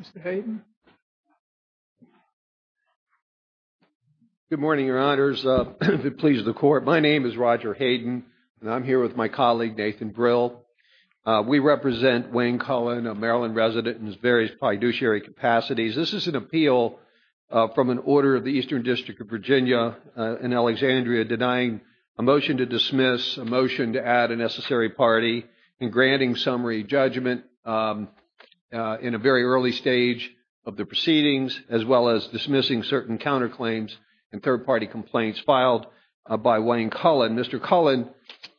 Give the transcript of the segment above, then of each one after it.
Mr. Hayden. Good morning, your honors. If it pleases the court, my name is Roger Hayden. And I'm here with my colleague, Nathan Brill. We represent Wayne Cohen, a Maryland resident in his various fiduciary capacities. This is an appeal from an order of the Eastern District of Virginia in Alexandria denying a motion to dismiss certain counterclaims and third-party complaints filed by Wayne Cullen. Mr. Cullen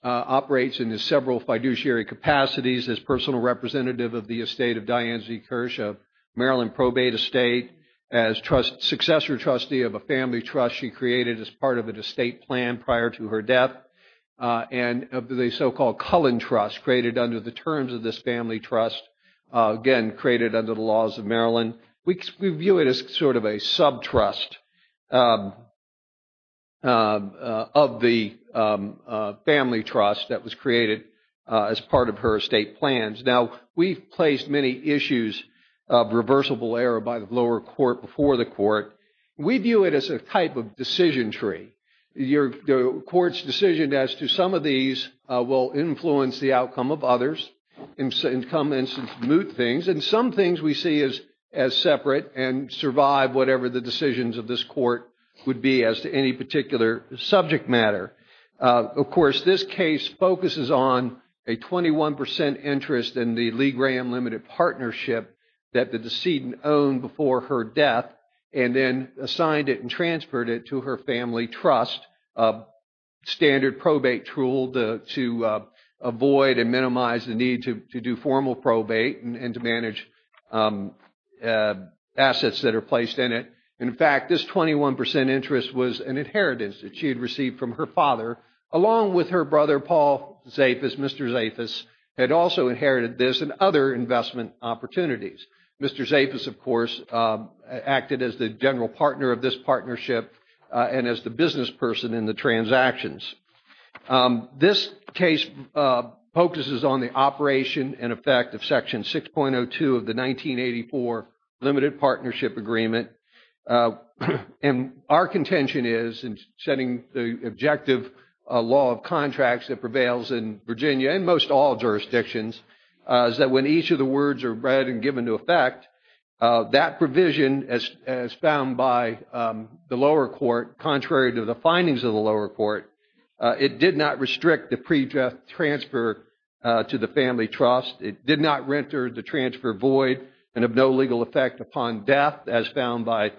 operates in his several fiduciary capacities as personal representative of the estate of Diane Z. Kirsch of Maryland Probate Estate. As successor trustee of a family trust she created as part of an estate plan prior to her death. And of the so-called Cullen Trust created under the terms of this family trust, again, created under the laws of Maryland, we view it as sort of a sub-trust of the family trust that was created as part of her estate plans. Now, we've placed many issues of reversible error by the lower court before the court. We view it as a type of decision tree. The court's decision as to some of these will influence the outcome of others and come in some new things. And some things we see as separate and survive whatever the decisions of this court would be as to any particular subject matter. Of course, this case focuses on a 21 percent interest in the Lee Graham Limited Partnership that the decedent owned before her death and then assigned it and transferred it to her family trust, a standard probate tool to avoid and minimize the need to do formal probate and to manage assets that are placed in it. In fact, this 21 percent interest was an inheritance that she had received from her father along with her brother Paul Zafis, Mr. Zafis, had also inherited this and other investment opportunities. Mr. Zafis, of course, acted as the general partner of this partnership and as the business person in the transactions. This case focuses on the operation and effect of Section 6.02 of the 1984 Limited Partnership Agreement. And our contention is in setting the objective law of contracts that prevails in Virginia and most all jurisdictions is that when each of the words are read and given to effect, that provision as found by the lower court contrary to the findings of the lower court, it did not restrict the pre-death transfer to the family trust. It did not render the transfer void and of no legal effect upon death as found by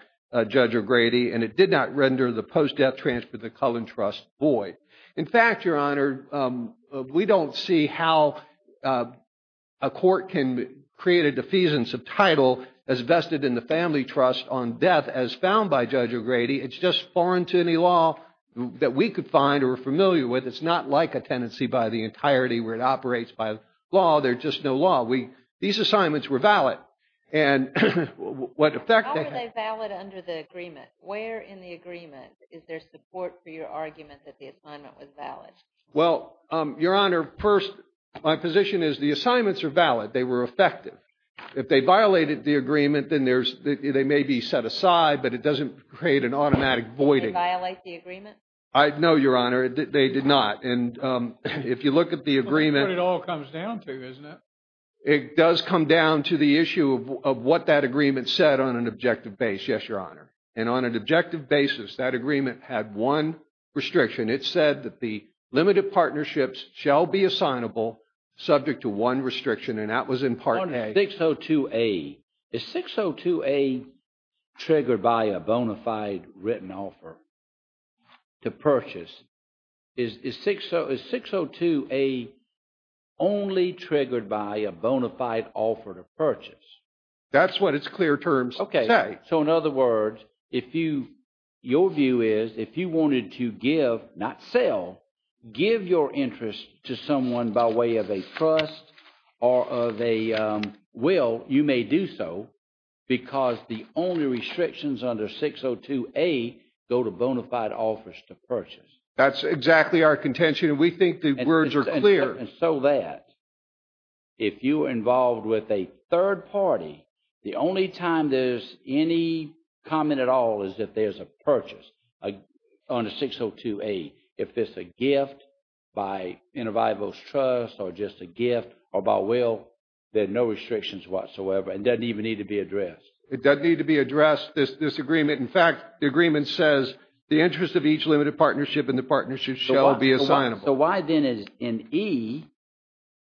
Judge O'Grady. And it did not render the post-death transfer to the Cullen Trust void. In fact, Your Honor, we don't see how a court can create a defeasance of title as vested in the family trust on death as found by the law that we could find or are familiar with. It's not like a tenancy by the entirety where it operates by law. There's just no law. These assignments were valid. How were they valid under the agreement? Where in the agreement is there support for your argument that the assignment was valid? Well, Your Honor, my position is the assignments are valid. They were effective. If they violated the agreement. I know, Your Honor, they did not. And if you look at the agreement, it all comes down to, isn't it? It does come down to the issue of what that agreement said on an objective base. Yes, Your Honor. And on an objective basis, that agreement had one restriction. It said that the limited partnerships shall be assignable subject to one restriction. And that was in part. I think so, too. A trigger by a bona fide written offer to purchase is six. So it's 602 a only triggered by a bona fide offer to purchase. That's what it's clear terms. OK. So in other words, if you your view is, if you wanted to give, not sell, give your interest to someone by way of a trust or of a will, you may do so, because the only restrictions under 602 a go to bona fide offers to purchase. That's exactly our contention. And we think the words are clear. And so that if you are involved with a third party, the only time there's any comment at all is that there's a purchase on a 602 a. If it's a gift by intervivals trust or just a gift or by will, there are no restrictions whatsoever and doesn't even need to be addressed. It doesn't need to be addressed, this agreement. In fact, the agreement says the interest of each limited partnership and the partnership shall be assignable. So why then is an E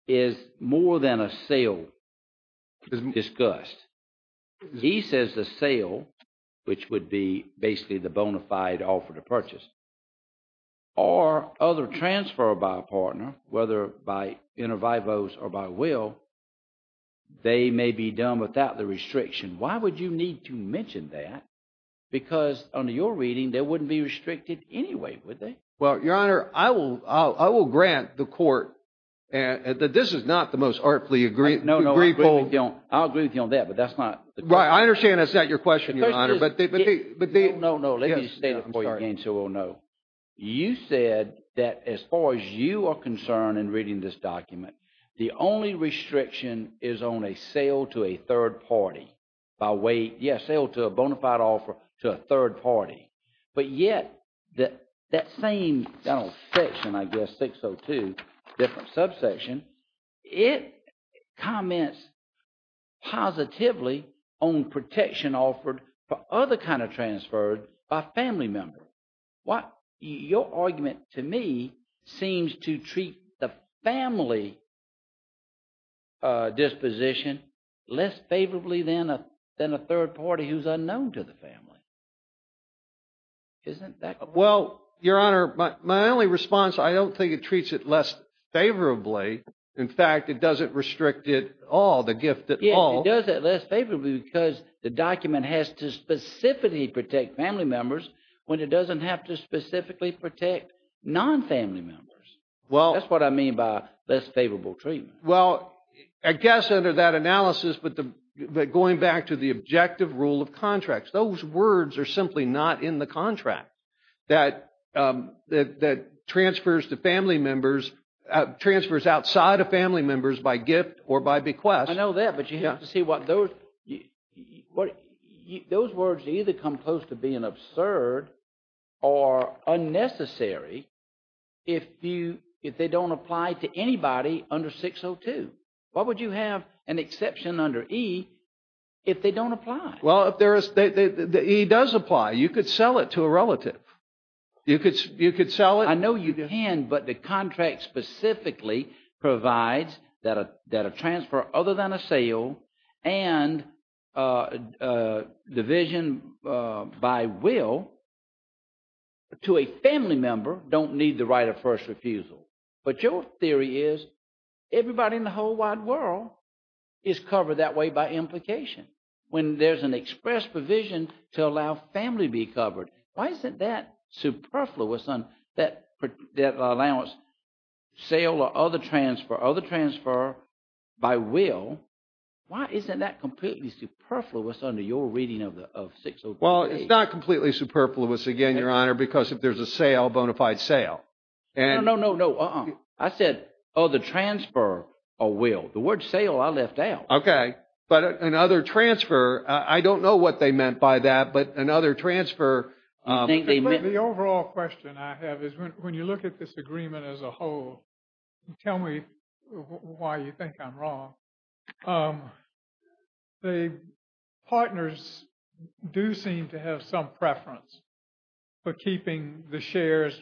is more than a sale discussed. E says the sale, which would be basically the bona fide offer to purchase. Or other transfer by a partner, whether by intervivals or by will, they may be done without the restriction. Why would you need to mention that? Because under your reading, they wouldn't be restricted anyway, would they? Well, Your Honor, I will grant the court that this is not the most artfully agreed. No, no. I'll agree with you on that, but that's not. Right. I understand that's not your question, Your Honor. No, no. Let me state it for you again so we'll know. You said that as far as you are concerned in reading this document, the only restriction is on a sale to a third party by way, yes, sale to a bona fide offer to a third party. But yet that same section, I guess, 602, different subsection, it comments positively on protection offered for other kind of transfer by a family member. Your argument to me seems to treat the family disposition less favorably than a third party who's unknown to the family. Isn't that? Well, Your Honor, my only response, I don't think it treats it less favorably. In fact, it doesn't restrict it all, the gift at all. It does it less favorably because the document has to specifically protect family members when it doesn't have to specifically protect non-family members. That's what I mean by less favorable treatment. Well, I guess under that analysis, but going back to the objective rule of contracts, those words are simply not in the contract that transfers to family members, transfers outside of family members by gift or by relative. You see what those, those words either come close to being absurd or unnecessary if you, if they don't apply to anybody under 602. Why would you have an exception under E if they don't apply? Well, if there is, the E does apply. You could sell it to a relative. You could sell it. I know you can, but the contract specifically provides that a transfer other than a sale and division by will to a family member don't need the right of first refusal. But your theory is everybody in the whole wide world is covered that way by implication. When there's an express provision to allow family be covered. Why isn't that superfluous on that allowance? Sale or other transfer, other transfer by will. Why isn't that completely superfluous under your reading of 602A? Well, it's not completely superfluous again, Your Honor, because if there's a sale, bona fide sale. No, no, no. I said other transfer or will. The word sale I left out. Okay. But another transfer, I don't know what they meant by that, but another transfer. The overall question I have is when you look at this agreement as a whole, tell me why you think I'm wrong. The partners do seem to have some preference for keeping the shares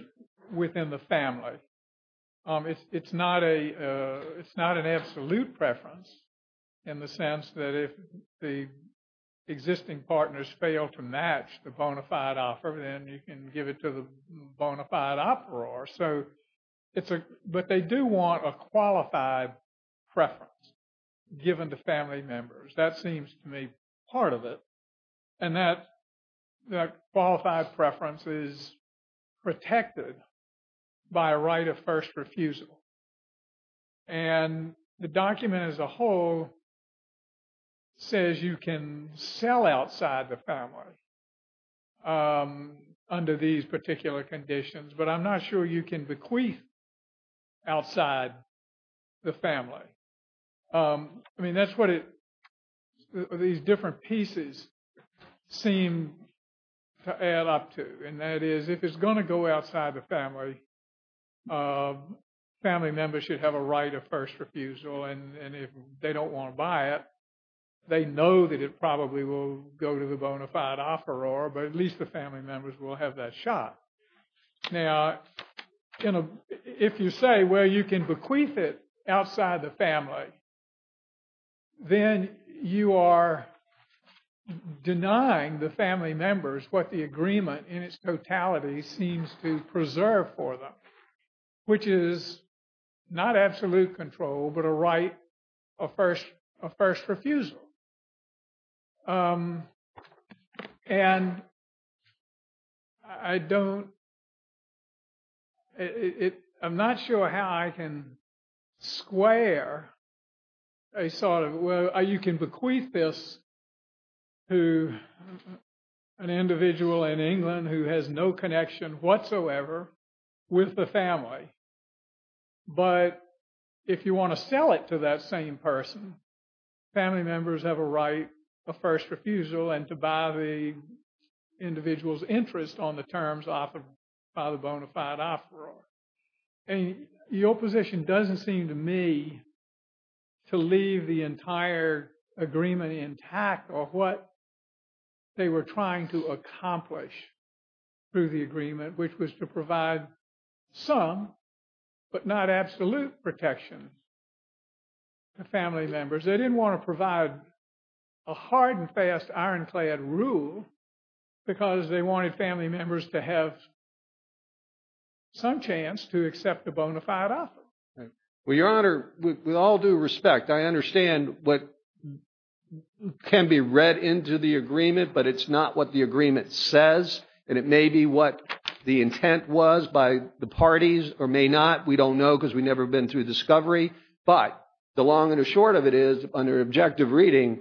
within the family. It's not a it's not an absolute preference in the sense that if the existing partners fail to match the bona fide offer, then you can give it to the bona fide offeror. So it's a, but they do want a qualified preference given to family members. That seems to me part of it. And that qualified preference is protected by right of first refusal. And the document as a whole says you can sell outside the family under these particular conditions, but I'm not sure you can bequeath outside the family. I mean, that's what it these different pieces seem to add up to. And that is if it's going to go outside the family, family members should have a right of first refusal. And if they don't want to buy it, they know that it probably will go to the bona fide offeror, but at least the family members will have that shot. Now, if you say, well, you can bequeath it outside the family. Then you are denying the family members what the agreement in its totality seems to preserve for them, which is not absolute control, but a right of first refusal. And I don't it. I'm not sure how I can square a sort of where you can bequeath this to an individual in England who has no connection whatsoever with the family. But if you want to sell it to that same person, family members have a right of first refusal and to buy the individual's interest on the terms offered by the bona fide offeror. And your position doesn't seem to me to leave the entire agreement intact or what they were trying to accomplish through the agreement, which was to provide some, but not absolute protection to family members. They didn't want to provide a hard and fast ironclad rule because they wanted family members to have some chance to accept the bona fide offer. Well, Your Honor, with all due respect, I understand what can be read into the agreement, but it's not what the agreement says. And it may be what the intent was by the parties or may not. We don't know because we've never been through discovery. But the long and short of it is under objective reading,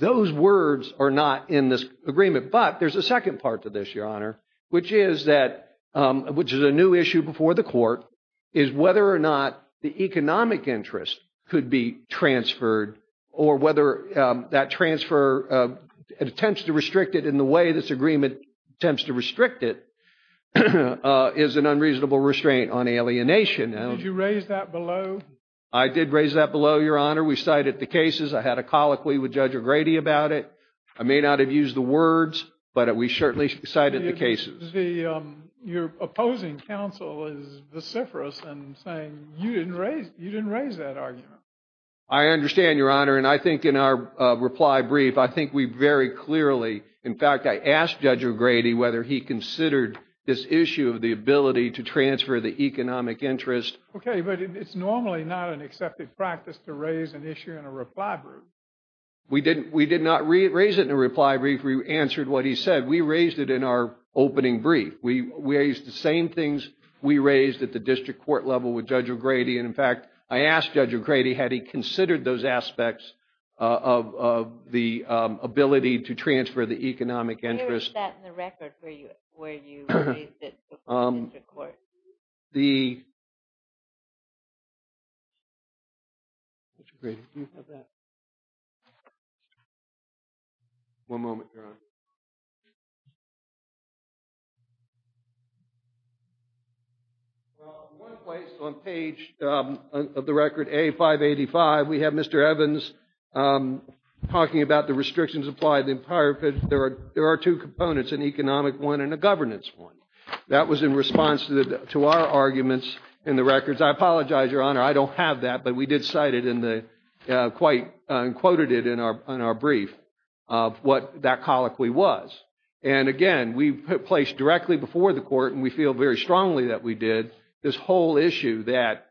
those words are not in this agreement. But there's a second part to this, Your Honor, which is a new issue before the court, is whether or not the economic interest could be transferred or whether that transfer attempts to restrict it in the way this agreement attempts to restrict it is an unreasonable restraint on alienation. Did you raise that below? I did raise that below, Your Honor. We cited the cases. I had a colloquy with Judge O'Grady about it. I may not have used the words, but we certainly cited the cases. Your opposing counsel is vociferous and saying you didn't raise that argument. I understand, Your Honor. And I think in our reply brief, I think we very clearly in fact, I asked Judge O'Grady whether he considered this issue of the ability to transfer the economic interest. Okay, but it's normally not an accepted practice to raise an issue in a reply brief. We did not raise it in a reply brief. We answered what he said. We raised it in our opening brief. We raised the same things we raised at the district court level with Judge O'Grady. And in fact, I asked Judge O'Grady had he considered those aspects of the ability to transfer the economic interest. Where is that in the record where you raised it before the district court? Judge O'Grady, do you have that? One moment, Your Honor. Well, in one place on page of the record A585, we have Mr. Evans talking about the restrictions applied. There are two components, an economic one and a governance one. That was in response to our arguments in the records. I apologize, Your Honor, I don't have that, but we did cite it in the, quite quoted it in our brief of what that colloquy was. And again, we placed directly before the court, and we feel very strongly that we did, this whole issue that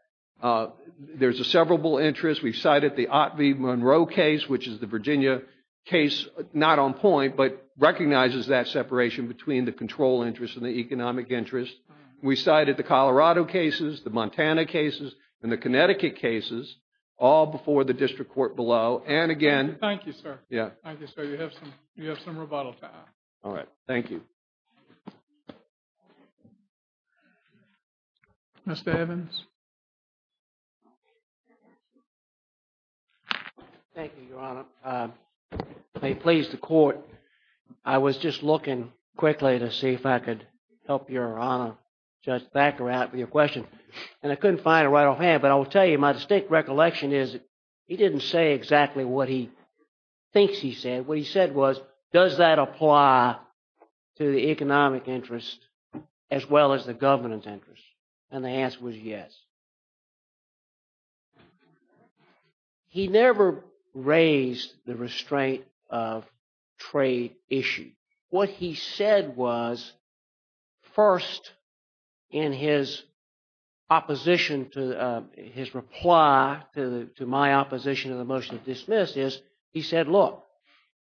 there's a severable interest. We've cited the Ott v. Monroe case, which is the Virginia case, not on point, but recognizes that separation between the control interest and the economic interest. We cited the Colorado cases, the Montana cases, and the Connecticut cases, all before the district court below. And again... Mr. Evans? Thank you, Your Honor. May it please the court, I was just looking quickly to see if I could help Your Honor, Judge Thackeratt, with your question. And I couldn't find it right off hand, but I will tell you, my distinct recollection is, he didn't say exactly what he said. What he said was, does that apply to the economic interest as well as the governance interest? And the answer was yes. He never raised the restraint of trade issue. What he said was, first, in his opposition to, his reply to my opposition to the motion to dismiss is, he said, look,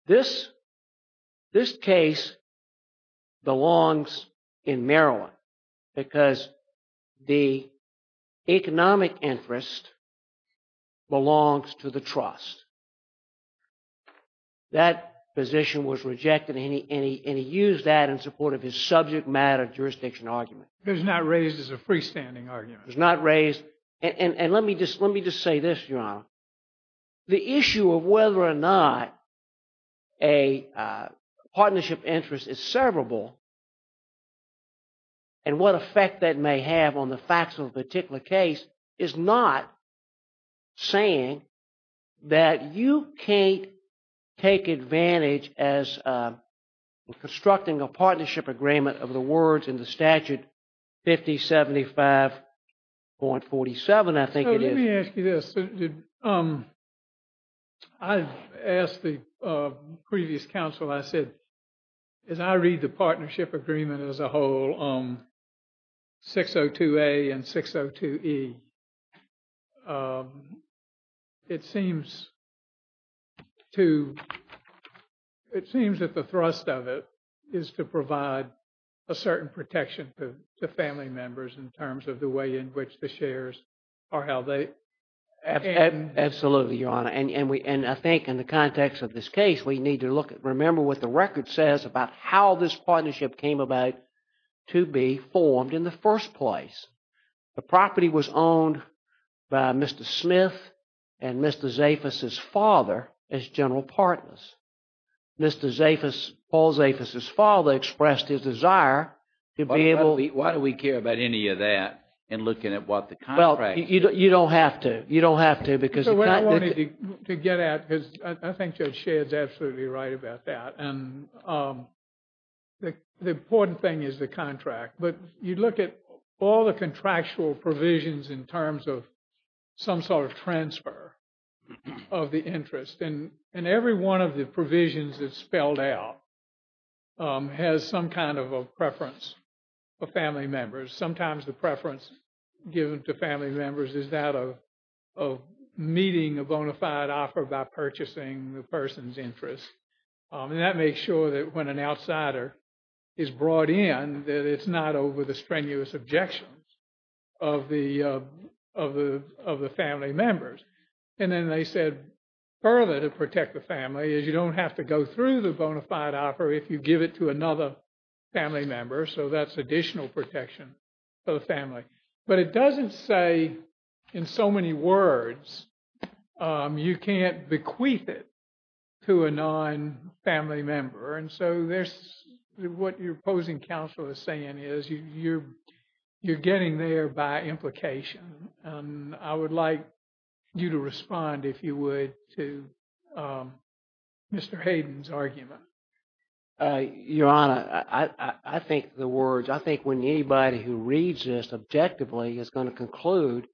this case belongs in Maryland, because the economic interest belongs to the trust. That position was rejected, and he used that in support of his subject matter jurisdiction argument. And let me just say this, Your Honor. The issue of whether or not a partnership interest is servable, and what effect that may have on the facts of a particular case, is not saying that you can't take a look at the statute 5075.47, I think it is. Let me ask you this. I've asked the previous counsel, I said, as I read the partnership agreement as a whole, 602A and 602E, it seems to, it seems that the thrust of it is to provide a certain protection to family members in terms of the way in which the shares are held. Absolutely, Your Honor. And I think in the context of this case, we need to remember what the record says about how this partnership came about to be formed in the first place. The property was owned by Mr. Smith and Mr. Zafis' father as general partners. Mr. Zafis, Paul Zafis' father expressed his desire to be able... Why do we care about any of that in looking at what the contract... Well, you don't have to. You don't have to because... So what I wanted to get at is, I think Judge Shedd's absolutely right about that. And the important thing is the contract. But you look at all the contractual provisions in terms of some sort of transfer of the interest. And every one of the provisions that's spelled out has some kind of preference for family members. Sometimes the preference given to family members is that of meeting a bona fide offer by purchasing the person's interest. And that makes sure that when an outsider is brought in, that it's not over the strenuous objections of the family members. And then they said further to protect the family is you don't have to go through the bona fide offer if you give it to another family member. So that's additional protection for the family. But it doesn't say in so many words, you can't bequeath it to a non-family member. And so there's... What your opposing counsel is saying is you're getting there by implication. I would like you to respond, if you would, to Mr. Hayden's argument. Your Honor, I think the words, I think when anybody who reads this objectively is going to conclude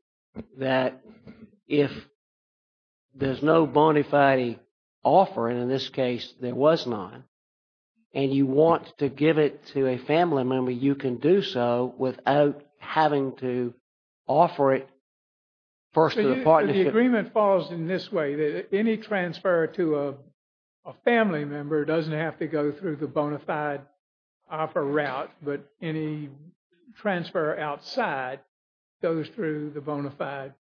that if there's no bona fide offer, and in this case there was none, and you want to give it to a family member, you can do so without having to offer it first to the partnership. The agreement falls in this way. Any transfer to a family member doesn't have to go through the bona fide offer route, but any transfer outside goes through the bona fide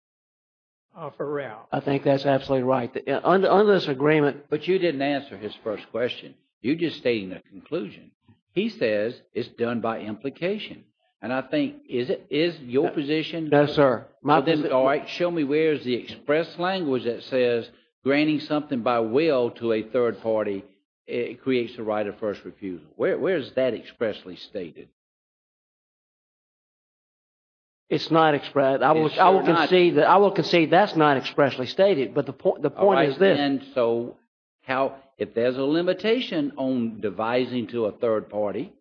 offer route. I think that's absolutely right. On this agreement... But you didn't answer his first question. You just stated the conclusion. He says it's done by implication. And I think, is your position... Devising something by will to a third party creates the right of first refusal. Where is that expressly stated? It's not expressed. I will concede that's not expressly stated, but the point is this. So if there's a limitation on devising to a third party,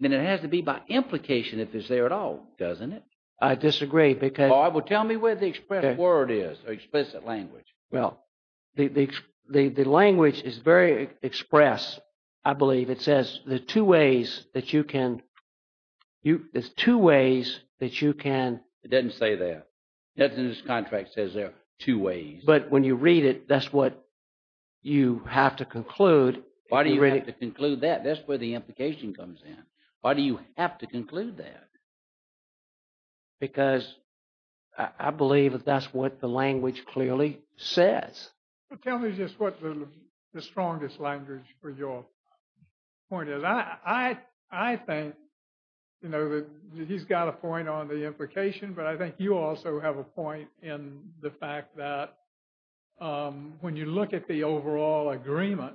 then it has to be by implication if it's there at all, doesn't it? I disagree, because... Well, tell me where the express word is, or explicit language. Well, the language is very express, I believe. It says there are two ways that you can... It doesn't say that. Nothing in this contract says there are two ways. But when you read it, that's what you have to conclude. Why do you have to conclude that? That's where the implication comes in. Why do you have to conclude that? Because I believe that that's what the language clearly says. Tell me just what the strongest language for your point is. I think that he's got a point on the implication, but I think you also have a point in the fact that when you look at the overall agreement,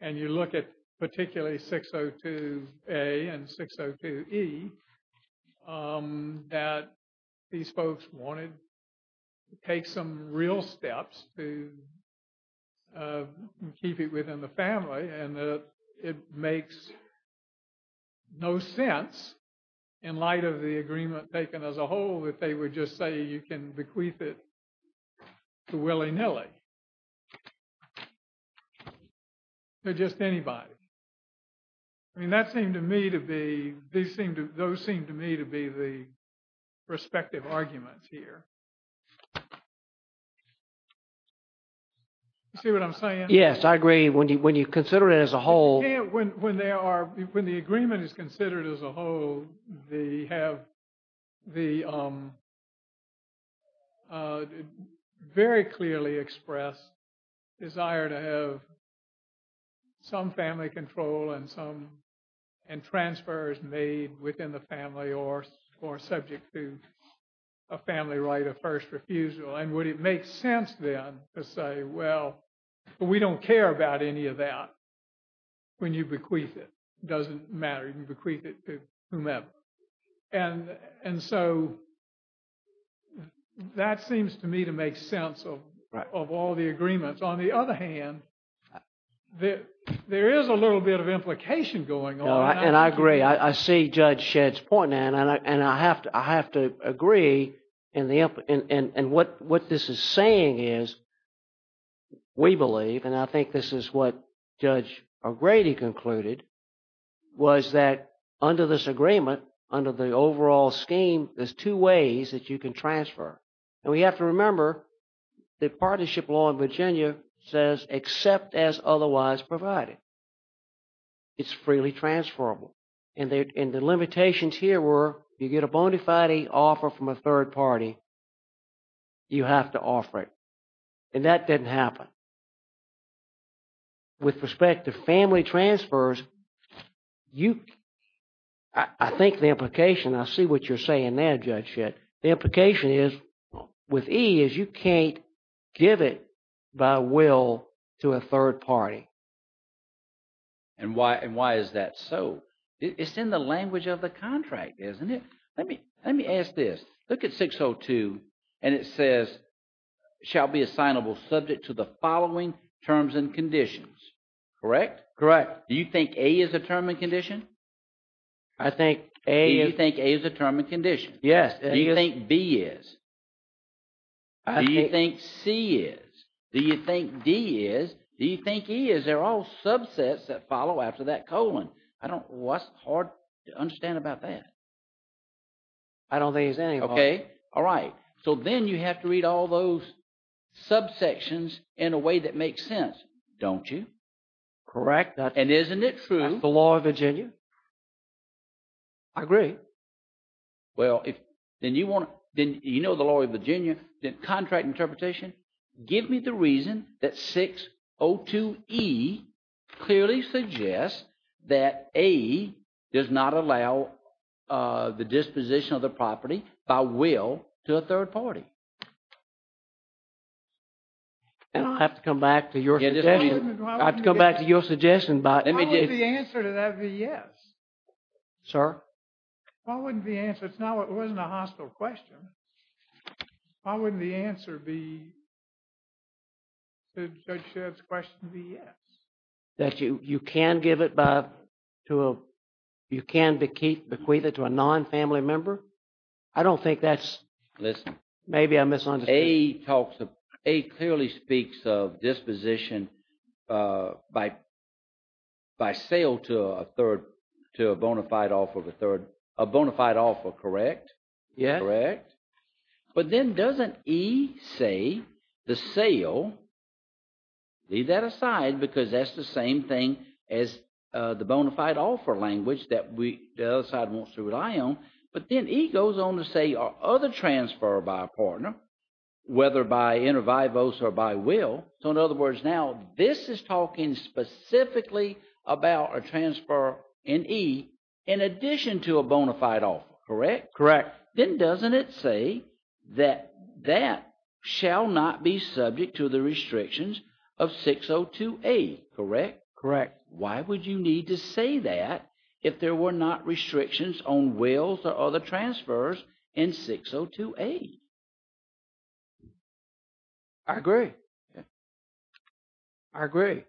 and you look at particularly 602A and 602E, that these folks wanted to take some real steps to keep it within the family, and it makes no sense in light of the agreement taken as a whole that they would just say you can bequeath it to willy-nilly. They're just anybody. I mean, that seemed to me to be... Those seem to me to be the respective arguments here. You see what I'm saying? Yes, I agree. When you consider it as a whole... When the agreement is considered as a whole, they have the very clearly expressed desire to have some family control and transfers made within the family or subject to a family right of first refusal, and would it make sense then to say, well, we don't care about any of that when you bequeath it. It doesn't matter. You can bequeath it to whomever. That seems to me to make sense of all the agreements. On the other hand, there is a little bit of implication going on. And I agree. I see Judge Shedd's point, and I have to agree in what this is saying is we believe, and I think this is what Judge O'Grady concluded, was that under this agreement, under the overall scheme, there's two ways that you can transfer. And we have to remember that partnership law in Virginia says, except as otherwise provided, it's freely transferable. And the limitations here were, you get a bona fide offer from a third party, you have to offer it. And that didn't happen. With respect to family transfers, I think the implication, I see what you're saying there, Judge Shedd. The implication is, with E is you can't give it by will to a third party. And why is that so? It's in the language of the contract, isn't it? Let me ask this. Look at 602 and it says, shall be assignable subject to the following terms and conditions. Correct? Correct. Do you think A is a term and condition? Do you think A is a term and condition? Yes. Do you think B is? Do you think C is? Do you think D is? Do you think E is? They're all subsets that follow after that colon. I don't, that's hard to understand about that. I don't think there's any. Okay. All right. So then you have to read all those subsections in a way that makes sense, don't you? Correct. And isn't it true? That's the law of Virginia. I agree. Well, then you want to, then you know the law of Virginia, then contract interpretation. Give me the reason that 602 E clearly suggests that A does not allow the disposition of the And I'll have to come back to your suggestion. I have to come back to your suggestion. Why wouldn't the answer to that be yes? Sir? Why wouldn't the answer, it wasn't a hostile question. Why wouldn't the answer be that Judge Shedd's question be yes? That you can give it by, you can bequeath it to a non-family member? I don't think that's. Listen. Maybe I'm misunderstanding. A talks, A clearly speaks of disposition by sale to a third, to a bona fide offer of a third, a bona fide offer, correct? Yeah. Correct. But then doesn't E say the sale, leave that aside because that's the same thing as the bona fide offer language that the other side wants to rely on. But then E goes on to say other transfer by a partner, whether by intervivos or by will. So in other words, now this is talking specifically about a transfer in E in addition to a bona fide offer, correct? Correct. Then doesn't it say that that shall not be why would you need to say that if there were not restrictions on wills or other transfers in 602A? I agree. I agree.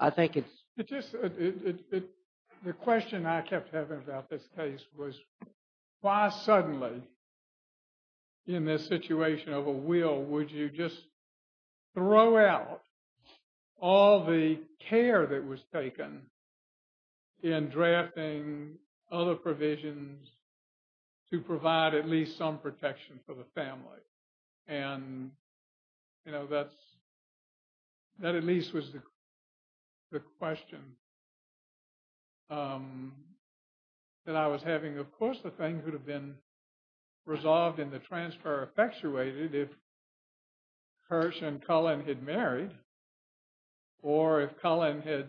I think it's just the question I kept having about this case was why suddenly in this situation of a will, would you just throw out all the care that was taken in drafting other provisions to provide at least some protection for the family? And, you know, that's that at least was the question that I was wondering did you wonder if you would have accepted if Kersh and Colin had married or if Colin had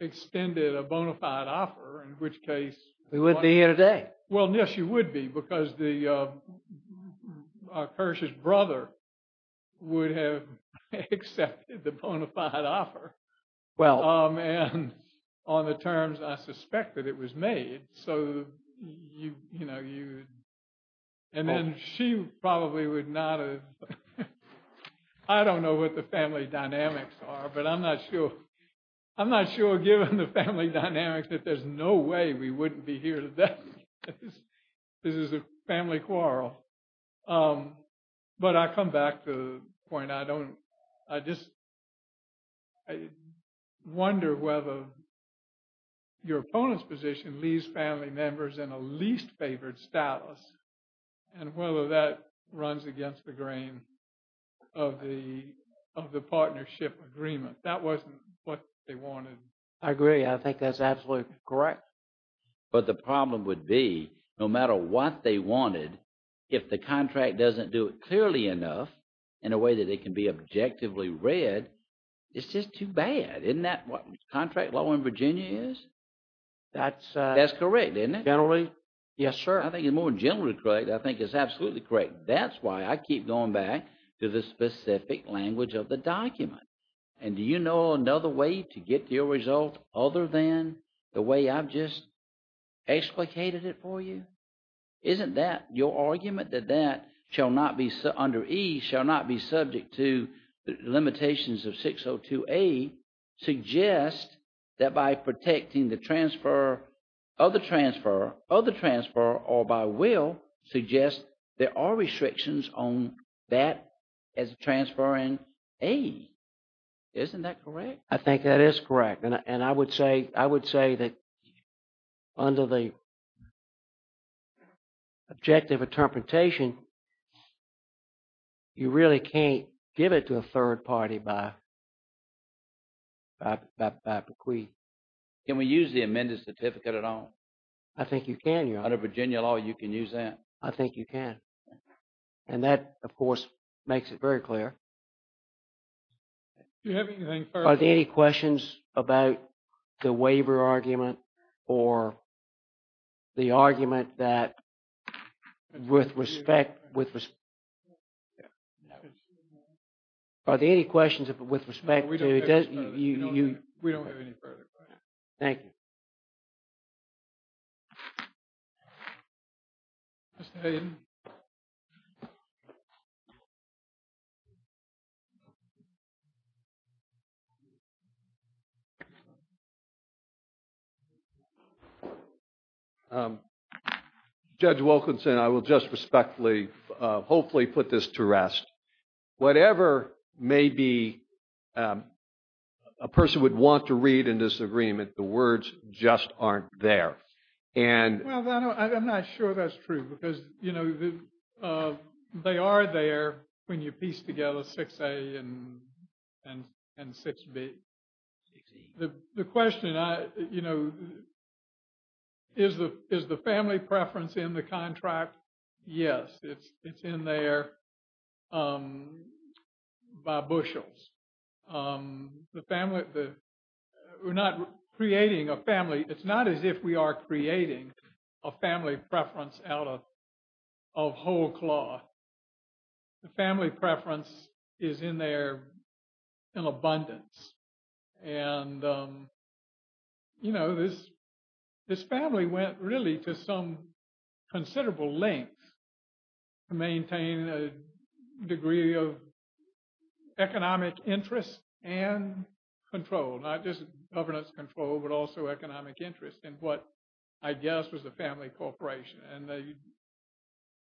extended a bona fide offer, in which case we would be here today. Well, yes, you would be because the Kersh's brother would have accepted the bona fide offer. Well, on the terms I suspect that it was made. So, you know, you and then she probably would not. I don't know what the family dynamics are, but I'm not sure. I'm not sure given the family dynamics that there's no way we wouldn't be here today. This is a family quarrel. But I come back to the point. I don't I just wonder whether your opponent's position leaves family members in a least favored status and whether that runs against the grain of the of the partnership agreement. That wasn't what they wanted. I agree. I think that's absolutely correct. But the problem would be no matter what they wanted, if the contract doesn't do it clearly enough in a way that it can be objectively read, it's just too bad. Isn't that what contract law in Virginia is? That's correct, isn't it? Generally. Yes, sir. I think it's more generally correct. I think it's absolutely correct. That's why I keep going back to the specific language of the document. And do you know another way to get your result other than the way I've just explicated it for you? Isn't that your argument that that shall not be under E shall not be subject to the limitations of 602A suggest that by protecting the transfer of the transfer of the transfer or by will suggest there are restrictions on that as a transfer in a isn't that correct? I think that is correct. And I would say I would say that under the objective interpretation you really can't give it to a third party by by bequeath. Can we use the amended certificate at all? I think you can. You're out of Virginia law. You can use that. I think you can. And that, of course, makes it very clear. Are there any questions about the waiver argument or the argument that with respect with are there any questions with respect to you? We don't have any further. Thank you. Judge Wilkinson, I will just respectfully hopefully put this to rest. Whatever may be a person would want to read in disagreement, the words just aren't there. And I'm not sure that's true, because, you know, they are there when you piece together 6A and and 6B. The question, you know, is the is the family preference in the contract? Yes, it's it's in there by bushels. The family that we're not creating a family. It's not as if we are creating a family preference out of whole cloth. The family preference is in there in abundance. And, you know, this this family went really to some considerable length to maintain a degree of economic interest and control, not just governance control, but also economic interest in what I guess was the family corporation. And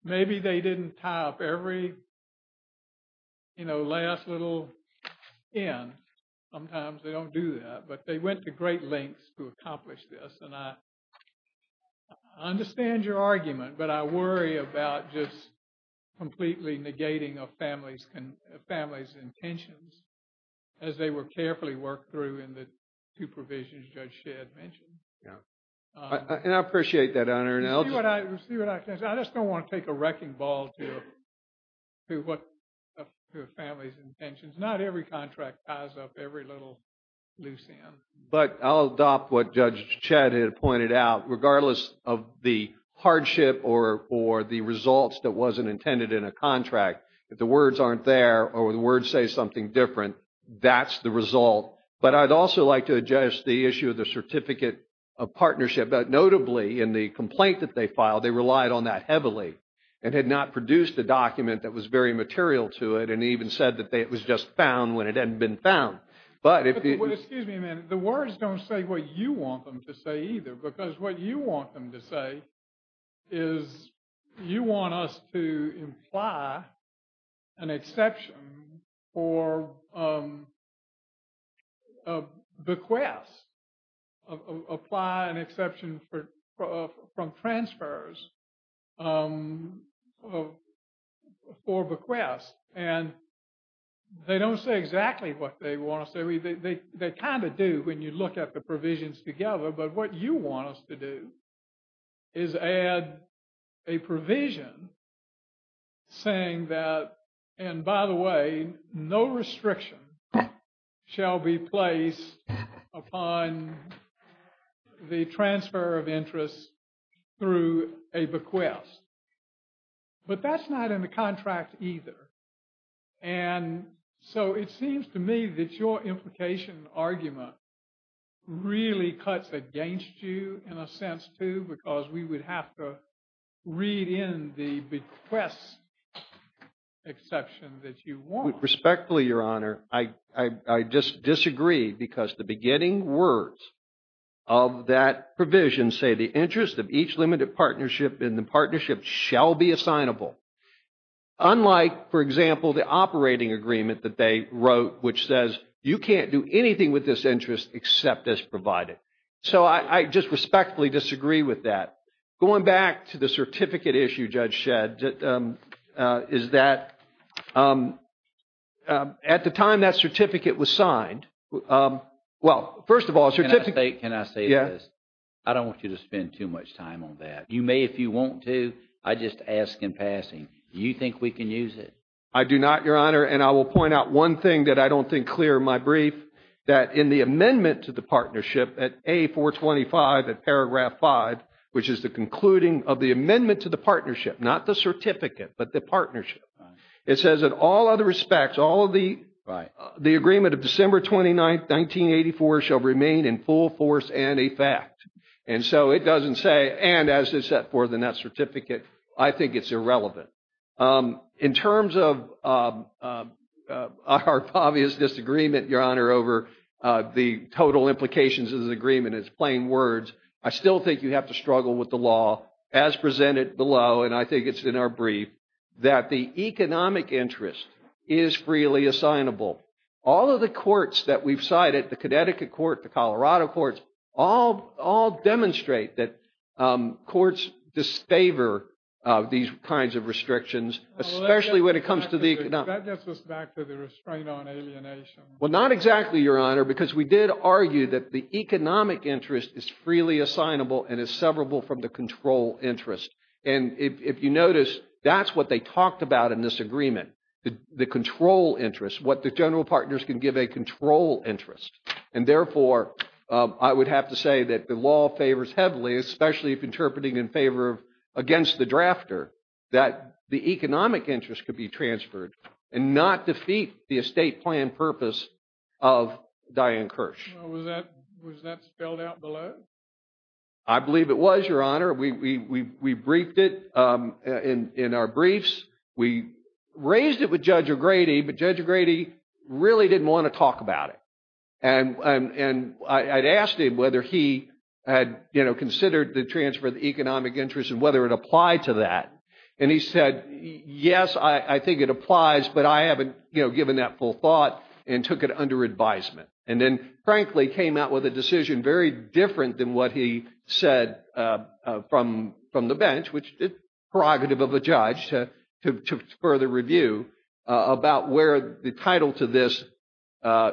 maybe they didn't top every, you know, last little in. Sometimes they don't do that, but they went to great lengths to accomplish this. And I understand your argument. But I worry about just completely negating a family's family's intentions as they were carefully worked through in the supervision, as Judge Shedd mentioned. And I appreciate that, Your Honor. I just don't want to take a wrecking ball to a family's intentions. Not every contract ties up every little loose end. But I'll adopt what Judge Shedd had pointed out, regardless of the hardship or or the results that wasn't intended in a contract. If the words aren't there or the words say something different, that's the result. But I'd also like to address the issue of the certificate of partnership, but notably in the complaint that they filed, they relied on that heavily and had not produced a document that was very material to it and even said that it was just found when it hadn't been found. But if the words don't say what you want them to say either, because what you want them to say is you want us to imply an exception for bequests, apply an exception for from transfers for bequests. And they don't say exactly what they want to say. They kind of do when you look at the provisions together. But what you want us to do is add a provision saying that. And by the way, no restriction shall be placed upon the transfer of interest through a bequest. But that's not in the contract either. And so it seems to me that your implication argument really cuts against you in a sense, too, because we would have to read in the bequest exception that you want. Respectfully, Your Honor, I just disagree because the beginning words of that provision say the interest of each limited partnership in the partnership shall be assignable. Unlike, for example, the operating agreement that they wrote, which says you can't do anything with this interest except as provided. So I just respectfully disagree with that. Going back to the certificate issue, Judge Shedd, is that at the time that certificate was signed. Well, first of all, can I say this? I don't want you to spend too much time on that. You may if you want to. I just ask in passing, do you think we can use it? I do not, Your Honor. And I will point out one thing that I don't think clear in my brief, that in the amendment to the partnership at A425 at paragraph five, which is the concluding of the amendment to the partnership, not the certificate, but the partnership, it says that all other respects, all of the agreement of December 29th, 1984 shall remain in full force and effect. And so it doesn't say, and as is set forth in that certificate, I think it's irrelevant. In terms of our obvious disagreement, Your Honor, over the total implications of the agreement is plain words. I still think you have to struggle with the law as presented below. And I think it's in our brief that the economic interest is freely assignable. All of the courts that we've cited, the Connecticut court, the Colorado courts, all demonstrate that courts disfavor these kinds of restrictions, especially when it comes to the economic. That gets us back to the restraint on alienation. Well, not exactly, Your Honor, because we did argue that the economic interest is freely assignable and is severable from the control interest. And if you notice, that's what they talked about in this agreement, the control interest, what the general partners can give a control interest. And therefore, I would have to say that the law favors heavily, especially if interpreting in favor of against the drafter, that the economic interest could be transferred and not defeat the estate plan purpose of Diane Kirsch. Was that spelled out below? I believe it was, Your Honor. We briefed it in our briefs. We raised it with Judge O'Grady, but Judge O'Grady really didn't want to talk about it. And I'd asked him whether he had considered the transfer of the economic interest and whether it applied to that. And he said, yes, I think it applies, but I haven't given that full thought and took it under advisement. And then, frankly, came out with a decision very different than what he said from the bench, which is prerogative of a judge to further review about where the title to this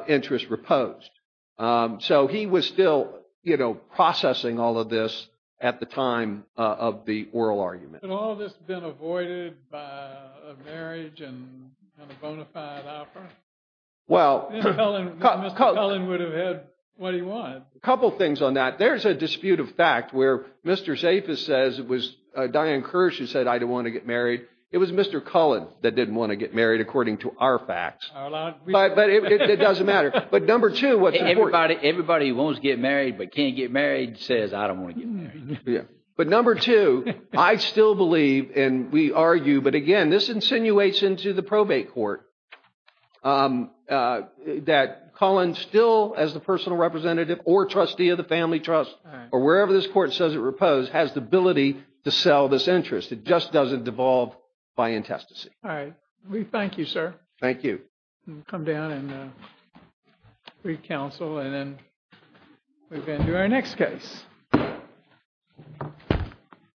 interest reposed. So he was still processing all of this at the time of the oral argument. Well, Mr. Cullen would have had what he wanted. A couple of things on that. There's a dispute of fact where Mr. Zafis says it was Diane Kirsch who said, I don't want to get married. It was Mr. Cullen that didn't want to get married, according to our facts. But it doesn't matter. But number two, what's important? Everybody who wants to get married but can't get married says, I don't want to get married. But number two, I still believe, and we argue, but again, this insinuates into the probate court that Cullen still, as the personal representative or trustee of the family trust, or wherever this court says it reposed, has the ability to sell this interest. It just doesn't devolve by intestacy. All right. We thank you, sir. Thank you. Come down and re-counsel and then we can do our next case.